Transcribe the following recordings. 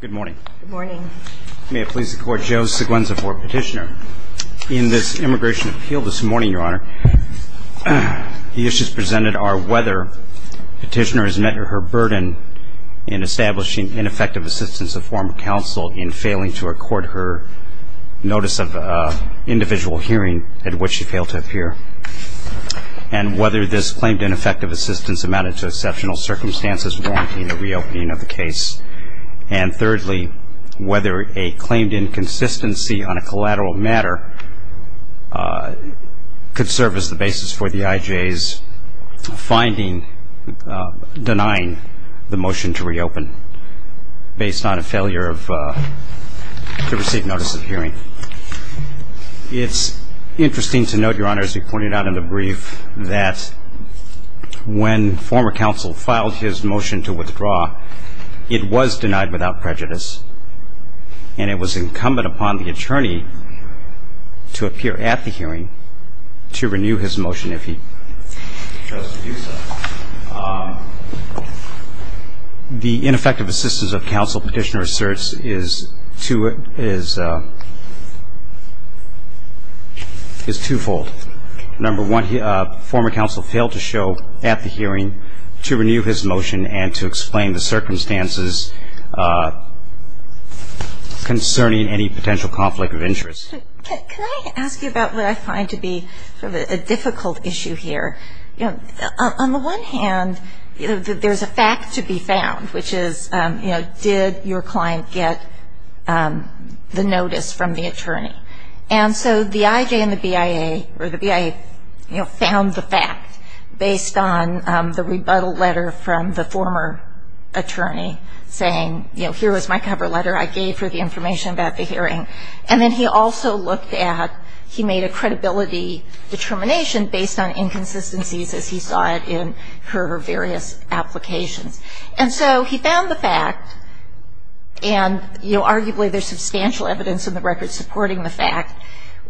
Good morning. Good morning. May it please the court, Joe Seguenza for petitioner. In this immigration appeal this morning, your honor, the issues presented are whether petitioner has met her burden in establishing ineffective assistance of former counsel in failing to record her notice of individual hearing at which she failed to appear. And whether this claimed ineffective assistance amounted to exceptional circumstances warranting a reopening of the case. And thirdly, whether a claimed inconsistency on a collateral matter could serve as the basis for the IJ's finding denying the motion to reopen based on a failure to receive notice of hearing. It's interesting to note, your honor, as you pointed out in the brief, that when former counsel filed his motion to withdraw, it was denied without prejudice. And it was incumbent upon the attorney to appear at the hearing to renew his motion if he chose to do so. The ineffective assistance of counsel petitioner asserts is twofold. Number one, former counsel failed to show at the hearing to renew his motion and to explain the circumstances concerning any potential conflict of interest. Can I ask you about what I find to be a difficult issue here? On the one hand, there's a fact to be found, and so the IJ and the BIA found the fact based on the rebuttal letter from the former attorney saying, here was my cover letter. I gave her the information about the hearing. And then he also looked at, he made a credibility determination based on inconsistencies, as he saw it in her various applications. And so he found the fact, and arguably there's a fact,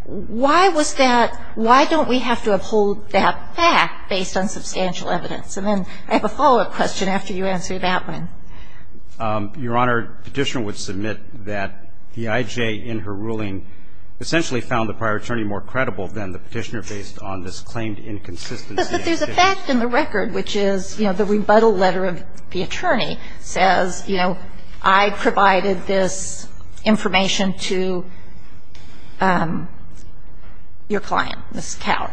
why was that, why don't we have to uphold that fact based on substantial evidence? And then I have a follow-up question after you answer that one. Your Honor, petitioner would submit that the IJ, in her ruling, essentially found the prior attorney more credible than the petitioner based on this claimed inconsistency. But there's a fact in the record, which is the rebuttal letter of the attorney says, I provided this information to your client, Ms. Coward.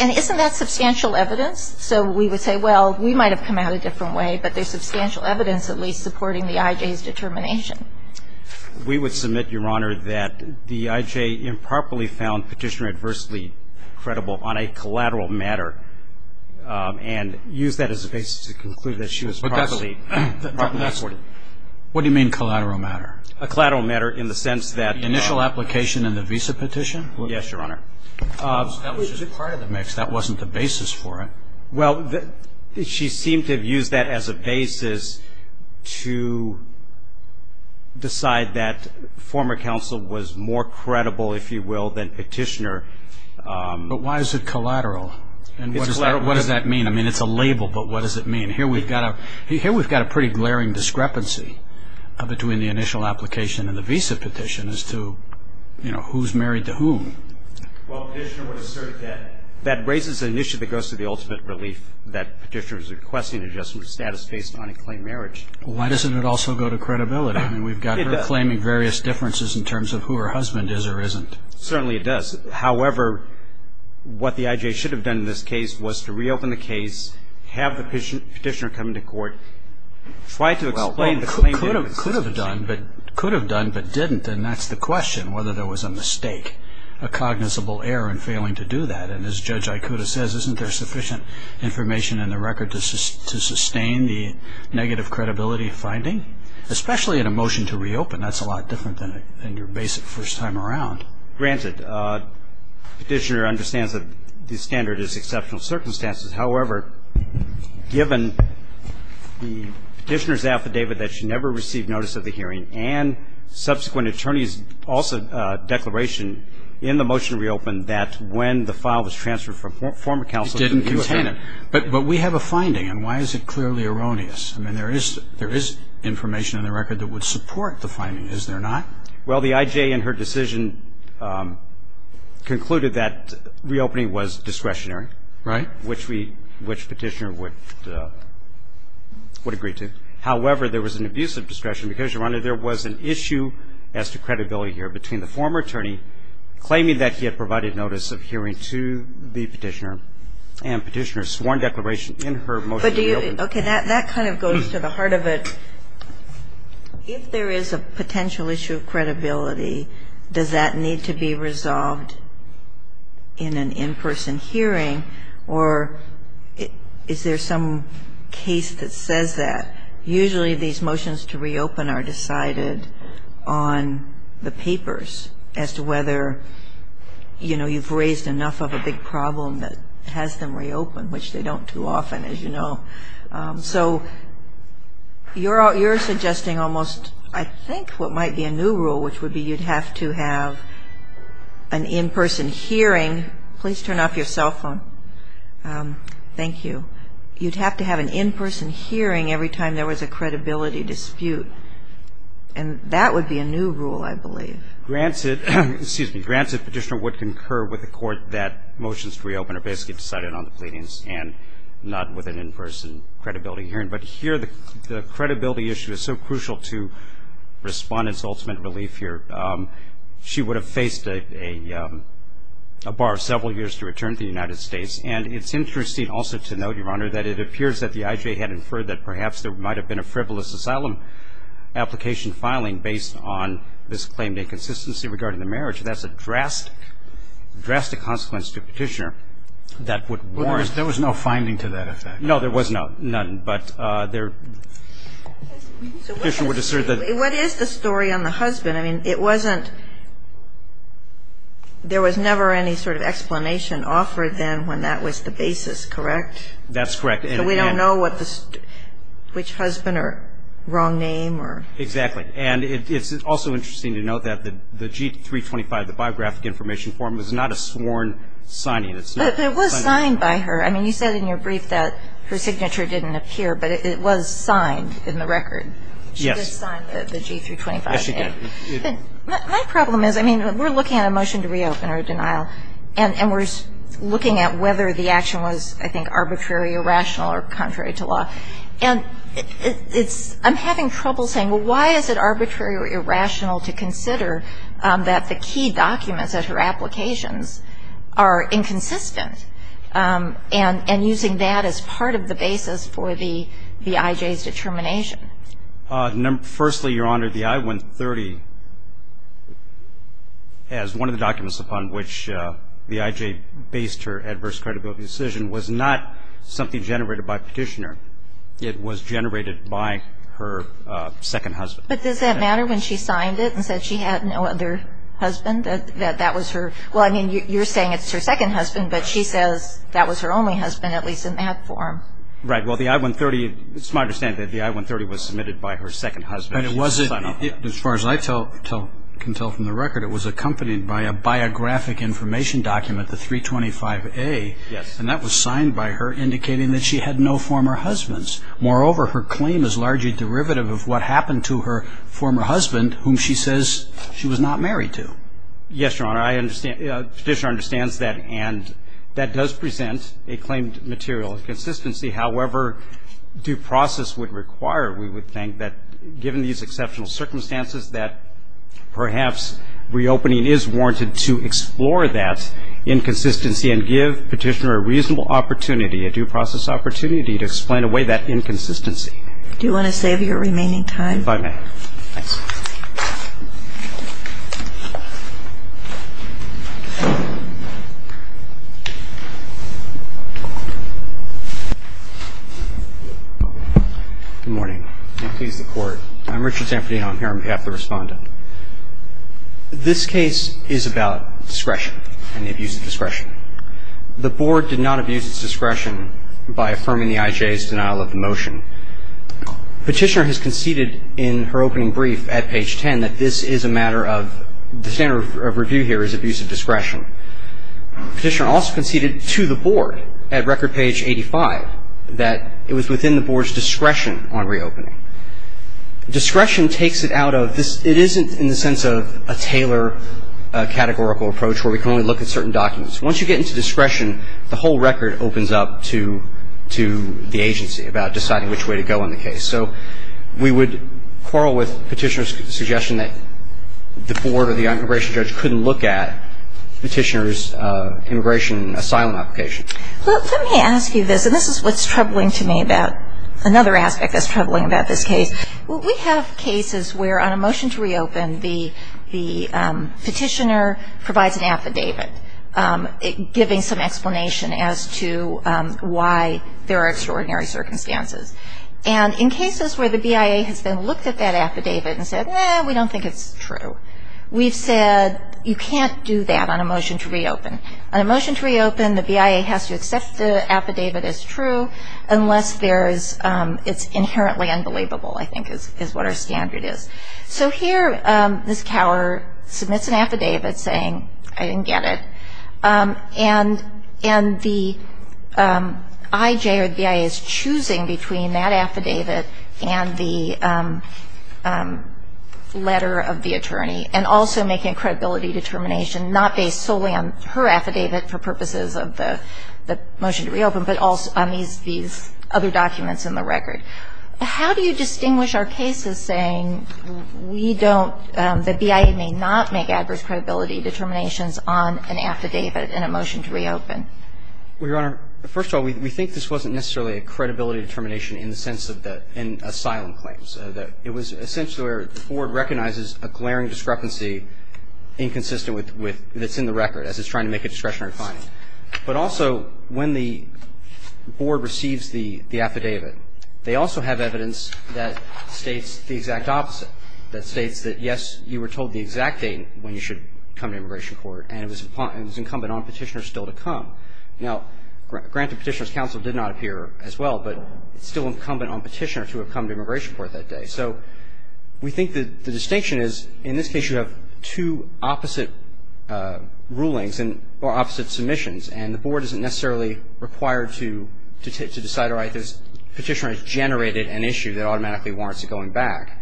And isn't that substantial evidence? So we would say, well, we might have come out a different way, but there's substantial evidence at least supporting the IJ's determination. We would submit, Your Honor, that the IJ improperly found petitioner adversely credible on a collateral matter and use that as a basis to conclude that she was properly reported. What do you mean collateral matter? A collateral matter in the sense that the initial application in the visa petition? Yes, Your Honor. That was prior to the mix. That wasn't the basis for it. Well, she seemed to have used that as a basis to decide that former counsel was more credible, if you will, than petitioner. But why is it collateral? And what does that mean? I mean, it's a label, but what does it mean? Here we've got a pretty glaring discrepancy between the initial application and the visa petition as to who's married to whom. Well, petitioner would assert that that raises an issue that goes to the ultimate relief that petitioner is requesting adjustment of status based on a claimed marriage. Why doesn't it also go to credibility? I mean, we've got her claiming various differences in terms of who her husband is or isn't. Certainly it does. However, what the IJ should have done in this case was to reopen the case, have the petitioner come to court, try to explain the claim. Could have done, but didn't. And that's the question, whether there was a mistake, a cognizable error in failing to do that. And as Judge Ikuda says, isn't there sufficient information in the record to sustain the negative credibility of finding? Especially in a motion to reopen, that's a lot different than your basic first time around. Granted, petitioner understands that the standard is exceptional circumstances. However, given the petitioner's affidavit that she never received notice of the hearing and subsequent attorney's declaration in the motion to reopen that when the file was transferred from former counsel didn't contain it. But we have a finding. And why is it clearly erroneous? I mean, there is information in the record that would support the finding. Is there not? Well, the IJ in her decision concluded that reopening was discretionary, which petitioner would agree to. However, there was an abuse of discretion, because, Your Honor, there was an issue as to credibility here between the former attorney claiming that he had provided notice of hearing to the petitioner and petitioner's sworn declaration in her motion to reopen. OK, that kind of goes to the heart of it. If there is a potential issue of credibility, does that need to be resolved in an in-person hearing? Or is there some case that says that? Usually, these motions to reopen are decided on the papers as to whether you've raised enough of a big problem that has them reopen, which they don't too often, as you know. So you're suggesting almost, I think, what might be a new rule, which would be you'd have to have an in-person hearing. Please turn off your cell phone. Thank you. You'd have to have an in-person hearing every time there was a credibility dispute. And that would be a new rule, I believe. Granted, excuse me, granted, petitioner would concur with the court that motions to reopen are basically decided on the pleadings and not with an in-person credibility hearing. But here, the credibility issue is so crucial to respondents' ultimate relief here. She would have faced a bar of several years to return to the United States. And it's interesting also to note, Your Honor, that it appears that the IJ had inferred that perhaps there might have been a frivolous asylum application filing based on this claim of inconsistency regarding the marriage. That's a drastic, drastic consequence to a petitioner that would warrant. There was no finding to that effect. No, there was none. But the petitioner would assert that. What is the story on the husband? I mean, it wasn't, there was never any sort of explanation offered then when that was the basis, correct? That's correct. So we don't know which husband or wrong name or. Exactly. And it's also interesting to note that the G-325, the biographic information form, is not a sworn signing. It's not. But it was signed by her. I mean, you said in your brief that her signature didn't appear, but it was signed in the record. She did sign the G-325. Yes, she did. My problem is, I mean, we're looking at a motion to reopen or a denial, and we're looking at whether the action was, I think, arbitrary, irrational, or contrary to law. And I'm having trouble saying, well, why is it arbitrary or irrational to consider that the key documents of her applications are inconsistent, and using that as part of the basis for the IJ's determination? Firstly, Your Honor, the I-130, as one of the documents upon which the IJ based her adverse credibility decision, was not something generated by Petitioner. It was generated by her second husband. But does that matter when she signed it and said she had no other husband, that that was her? Well, I mean, you're saying it's her second husband, but she says that was her only husband, at least in that form. Right, well, the I-130, it's my understanding that the I-130 was submitted by her second husband. But it wasn't, as far as I can tell from the record, it was accompanied by a biographic information document, the 325A, and that was signed by her indicating that she had no former husbands. Moreover, her claim is largely derivative of what happened to her former husband, whom she says she was not married to. Yes, Your Honor, Petitioner understands that, and that does present a claimed material inconsistency. However, due process would require, we would think, that given these exceptional circumstances, that perhaps reopening is warranted to explore that inconsistency and give Petitioner a reasonable opportunity, a due process opportunity, to explain away that inconsistency. Do you want to save your remaining time? If I may. Good morning. May it please the Court. I'm Richard Zampardino. I'm here on behalf of the Respondent. This case is about discretion, and the abuse of discretion. The Board did not abuse its discretion by affirming the IJ's denial of the motion. Petitioner has conceded in her opening brief at page 10 that this is a matter of, the standard of review Petitioner has conceded that the IJ's denial of the motion Petitioner also conceded to the Board at record page 85 that it was within the Board's discretion on reopening. Discretion takes it out of this, it isn't in the sense of a Taylor categorical approach where we can only look at certain documents. Once you get into discretion, the whole record opens up to the agency about deciding which way to go in the case. So we would quarrel with Petitioner's suggestion that the Board or the immigration judge couldn't look at Petitioner's immigration asylum application. Let me ask you this, and this is what's troubling to me about another aspect that's troubling about this case. We have cases where on a motion to reopen, the petitioner provides an affidavit giving some explanation as to why there are extraordinary circumstances. And in cases where the BIA has then looked at that affidavit and said, eh, we don't think it's true, we've said, you can't do that on a motion to reopen. On a motion to reopen, the BIA has to accept the affidavit as true unless it's inherently unbelievable, I think is what our standard is. So here, this cowerer submits an affidavit saying, I didn't get it. And the IJ or the BIA is choosing between that affidavit and the letter of the attorney and also making a credibility determination not based solely on her affidavit for purposes of the motion to reopen but also on these other documents in the record. How do you distinguish our cases saying the BIA may not make adverse credibility determinations on an affidavit in a motion to reopen? Well, Your Honor, first of all, we in the sense of the asylum claims. It was essentially where the board recognizes a glaring discrepancy inconsistent with what's in the record as it's trying to make a discretionary finding. But also, when the board receives the affidavit, they also have evidence that states the exact opposite, that states that, yes, you were told the exact date when you should come to immigration court and it was incumbent on petitioners still to come. Now, granted, petitioner's counsel did not appear as well, but it's still incumbent on petitioner to have come to immigration court that day. So we think that the distinction is, in this case, you have two opposite rulings or opposite submissions. And the board isn't necessarily required to decide, all right, this petitioner has generated an issue that automatically warrants a going back.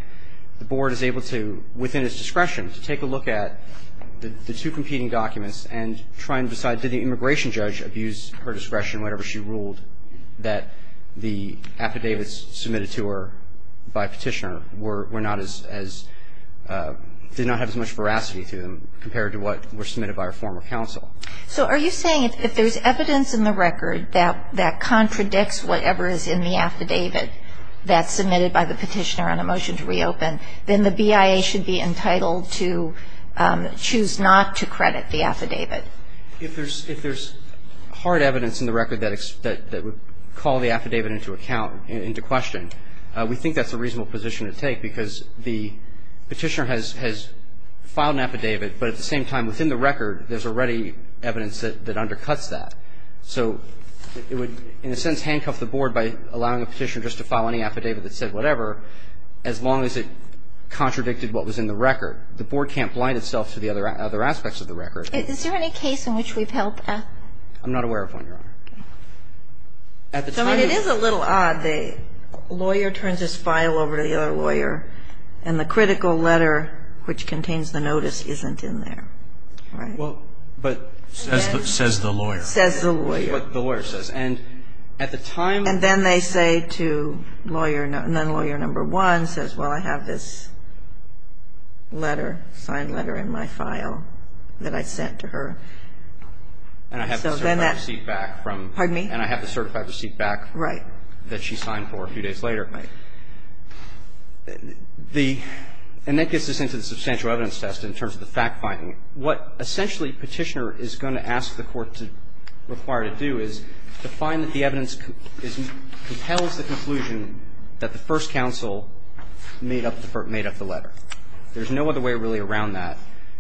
The board is able to, within its discretion, to take a look at the two competing documents and try and decide, did the immigration judge abuse her discretion, whatever she ruled, that the affidavits submitted to her by petitioner were not as, did not have as much veracity to them compared to what were submitted by her former counsel. So are you saying if there's evidence in the record that contradicts whatever is in the affidavit that's submitted by the petitioner on a motion to reopen, then the BIA should be entitled to choose If there's hard evidence in the record that would call the affidavit into account, into question, we think that's a reasonable position to take because the petitioner has filed an affidavit, but at the same time, within the record, there's already evidence that undercuts that. So it would, in a sense, handcuff the board by allowing a petitioner just to file any affidavit that said whatever, as long as it contradicted what was in the record. The board can't blind itself to the other aspects of the record. Is there any case in which we've helped? I'm not aware of one, Your Honor. At the time- So it is a little odd, the lawyer turns his file over to the other lawyer and the critical letter which contains the notice isn't in there, right? Well, but says the lawyer. Says the lawyer. Is what the lawyer says. And at the time- And then they say to lawyer, then lawyer number one says, well, I have this letter, signed letter in my file that I sent to her. And so then that- And I have the certified receipt back from- Pardon me? And I have the certified receipt back- Right. That she signed for a few days later. Right. And that gets us into the substantial evidence test in terms of the fact-finding. What essentially petitioner is going to ask the court to require to do is to find that the evidence compels the conclusion that the first counsel made up the letter. There's no other way really around that,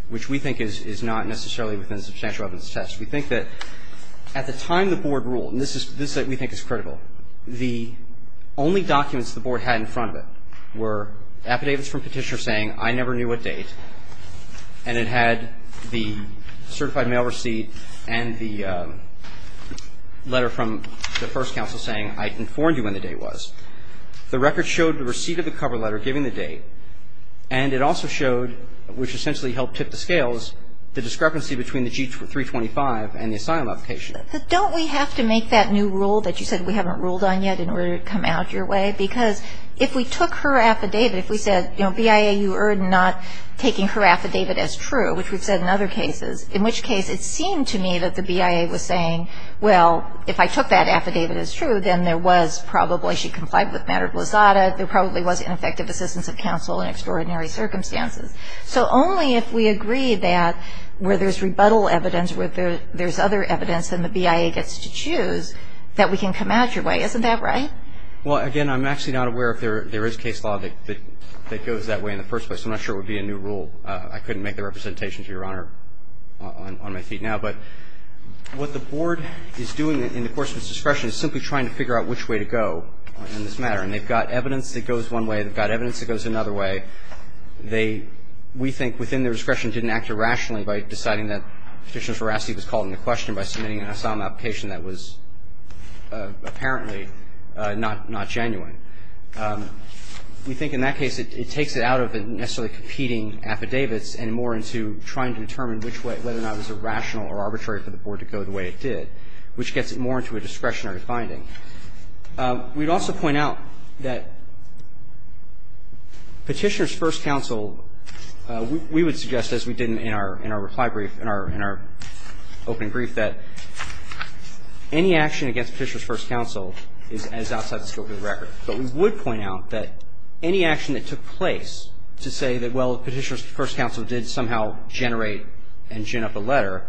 which we think is not necessarily within the substantial evidence test. We think that at the time the board ruled, and this is what we think is critical, the only documents the board had in front of it were affidavits from petitioner saying, I never knew what date. And it had the certified mail receipt and the letter from the first counsel saying, I informed you when the date was. The record showed the receipt of the cover letter giving the date. And it also showed, which essentially helped tip the scales, the discrepancy between the G325 and the asylum application. Don't we have to make that new rule that you said we haven't ruled on yet in order to come out your way? Because if we took her affidavit, if we said, BIA, you are not taking her affidavit as true, which we've said in other cases, in which case it seemed to me that the BIA was saying, well, if I took that affidavit as true, then there was probably, she complied with matter of lazada, there probably was ineffective assistance of counsel in extraordinary circumstances. So only if we agree that where there's rebuttal evidence, where there's other evidence than the BIA gets to choose, that we can come out your way. Isn't that right? Well, again, I'm actually not aware if there is case law that goes that way in the first place. I'm not sure it would be a new rule. I couldn't make the representation, Your Honor, on my feet now. But what the board is doing in the course of its discretion is simply trying to figure out which way to go in this matter. And they've got evidence that goes one way, they've got evidence that goes another way. They, we think within their discretion, didn't act irrationally by deciding that Petitioner's veracity was called into question by submitting an asylum application that was apparently not genuine. We think in that case, it takes it out of necessarily competing affidavits and more into trying to determine which way, whether or not it was irrational or arbitrary for the board to go the way it did, which gets it more into a discretionary finding. We'd also point out that Petitioner's first counsel, we would suggest, as we did in our reply brief, in our opening brief, that any action against Petitioner's first counsel is outside the scope of the record. But we would point out that any action that took place to say that, well, Petitioner's first counsel did somehow generate and gin up a letter,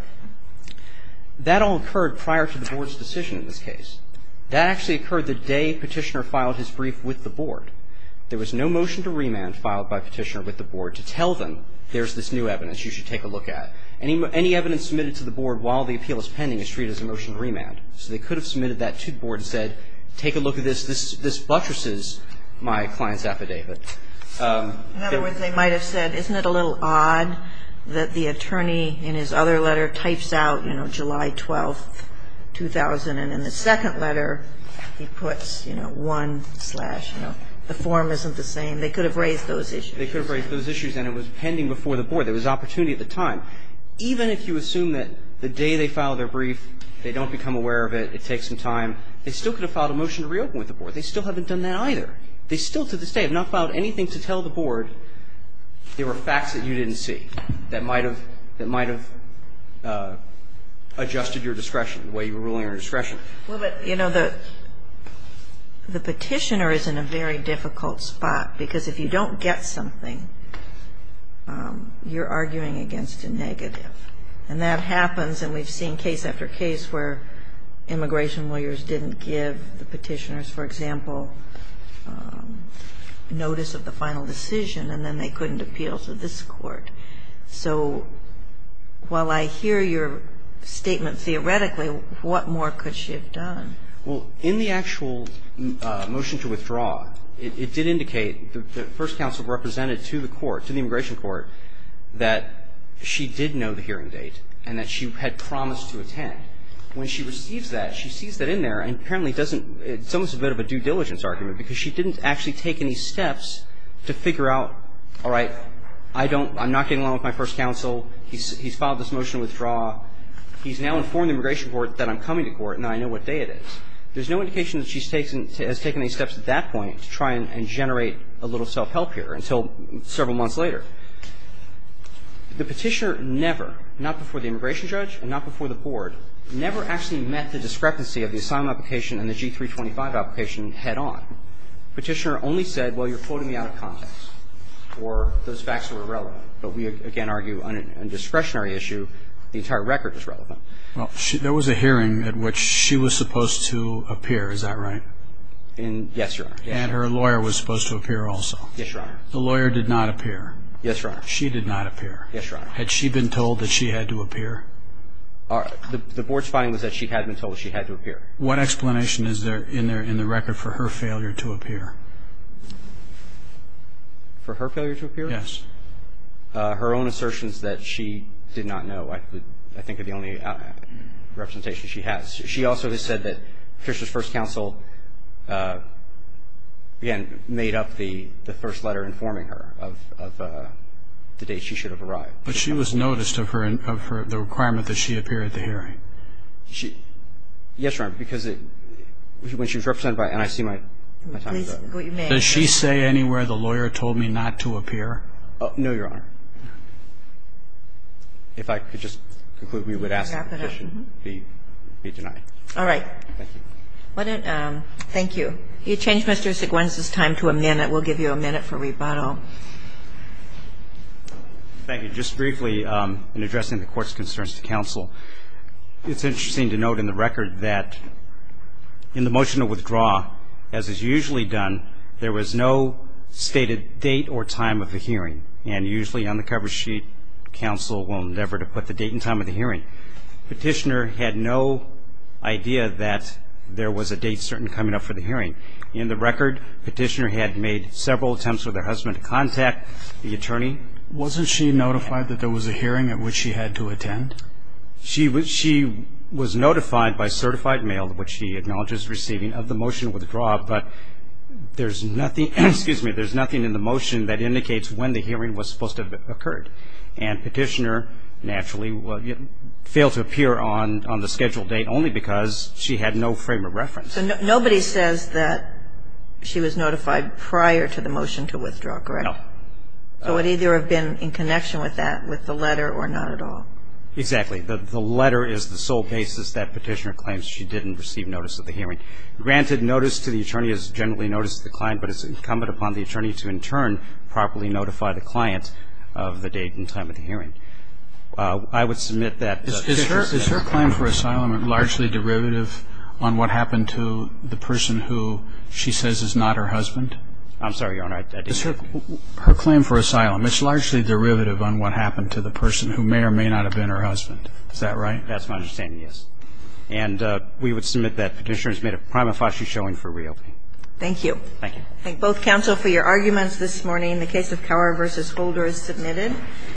that all occurred prior to the board's decision in this case. That actually occurred the day Petitioner filed his brief with the board. There was no motion to remand filed by Petitioner with the board to tell them there's this new evidence you should take a look at. Any evidence submitted to the board while the appeal is pending is treated as a motion to remand. So they could have submitted that to the board and said, take a look at this. This buttresses my client's affidavit. In other words, they might have said, isn't it a little odd that the attorney in his other letter types out, you know, July 12, 2000, and in the second letter he puts, you know, 1 slash, you know, the form isn't the same. They could have raised those issues. They could have raised those issues and it was pending before the board. There was opportunity at the time. Even if you assume that the day they filed their brief they don't become aware of it, it takes some time, they still could have filed a motion to reopen with the board. They still haven't done that either. They still to this day have not filed anything to tell the board there were facts that you didn't see that might have adjusted your discretion, the way you were ruling on discretion. Well, but, you know, the petitioner is in a very difficult spot because if you don't get something, you're arguing against a negative. And that happens and we've seen case after case where immigration lawyers didn't give the petitioners, for example, notice of the final decision and then they couldn't appeal to this court. So while I hear your statement theoretically, what more could she have done? Well, in the actual motion to withdraw, it did indicate the first counsel represented to the court, to the immigration court, that she did know the hearing date and that she had promised to attend. When she receives that, she sees that in there and apparently it doesn't – it's almost a bit of a due diligence argument because she didn't actually take any steps to figure out, all right, I don't – I'm not getting along with my first counsel. He's filed this motion to withdraw. He's now informed the immigration court that I'm coming to court and I know what day it is. There's no indication that she has taken any steps at that point to try and generate a little self-help here until several months later. The petitioner never, not before the immigration judge and not before the board, never actually met the discrepancy of the asylum application and the G-325 application head on. The petitioner only said, well, you're quoting me out of context or those facts are irrelevant, but we, again, argue on a discretionary issue the entire record is relevant. Well, there was a hearing at which she was supposed to appear. Is that right? Yes, Your Honor. And her lawyer was supposed to appear also. Yes, Your Honor. The lawyer did not appear. Yes, Your Honor. She did not appear. Yes, Your Honor. Had she been told that she had to appear? The board's finding was that she had been told she had to appear. What explanation is there in the record for her failure to appear? For her failure to appear? Yes. Her own assertions that she did not know I think are the only representation she has. She also has said that Fisher's first counsel, again, made up the first letter informing her of the date she should have arrived. But she was noticed of the requirement that she appear at the hearing. Yes, Your Honor, because when she was represented by NIC my time is up. Does she say anywhere the lawyer told me not to appear? No, Your Honor. If I could just conclude, we would ask that the petition be denied. All right. Thank you. Thank you. You changed Mr. Seguin's time to a minute. We'll give you a minute for rebuttal. Thank you. Just briefly in addressing the Court's concerns to counsel, it's interesting to note in the record that in the motion to withdraw, as is usually done, there was no stated date or time of the hearing. And usually on the cover sheet, counsel will endeavor to put the date and time of the hearing. Petitioner had no idea that there was a date certain coming up for the hearing. In the record, petitioner had made several attempts with her husband to contact the attorney. Wasn't she notified that there was a hearing at which she had to attend? She was notified by certified mail, which she acknowledges receiving, of the motion to withdraw. But there's nothing in the motion that indicates when the hearing was supposed to have occurred. And petitioner naturally failed to appear on the scheduled date only because she had no frame of reference. So nobody says that she was notified prior to the motion to withdraw, correct? No. So it either would have been in connection with that, with the letter, or not at all. Exactly. The letter is the sole basis that petitioner claims she didn't receive notice of the hearing. Granted, notice to the attorney is generally notice to the client, but it's incumbent upon the attorney to, in turn, properly notify the client of the date and time of the hearing. I would submit that the case is not the case. Is her claim for asylum largely derivative on what happened to the person who she says is not her husband? I'm sorry, Your Honor. Is her claim for asylum, it's largely derivative on what happened to the person who may or may not have been her husband. Is that right? That's my understanding, yes. And we would submit that petitioner has made a prima facie showing for real. Thank you. Thank you. I thank both counsel for your arguments this morning. The case of Cower v. Holder is submitted.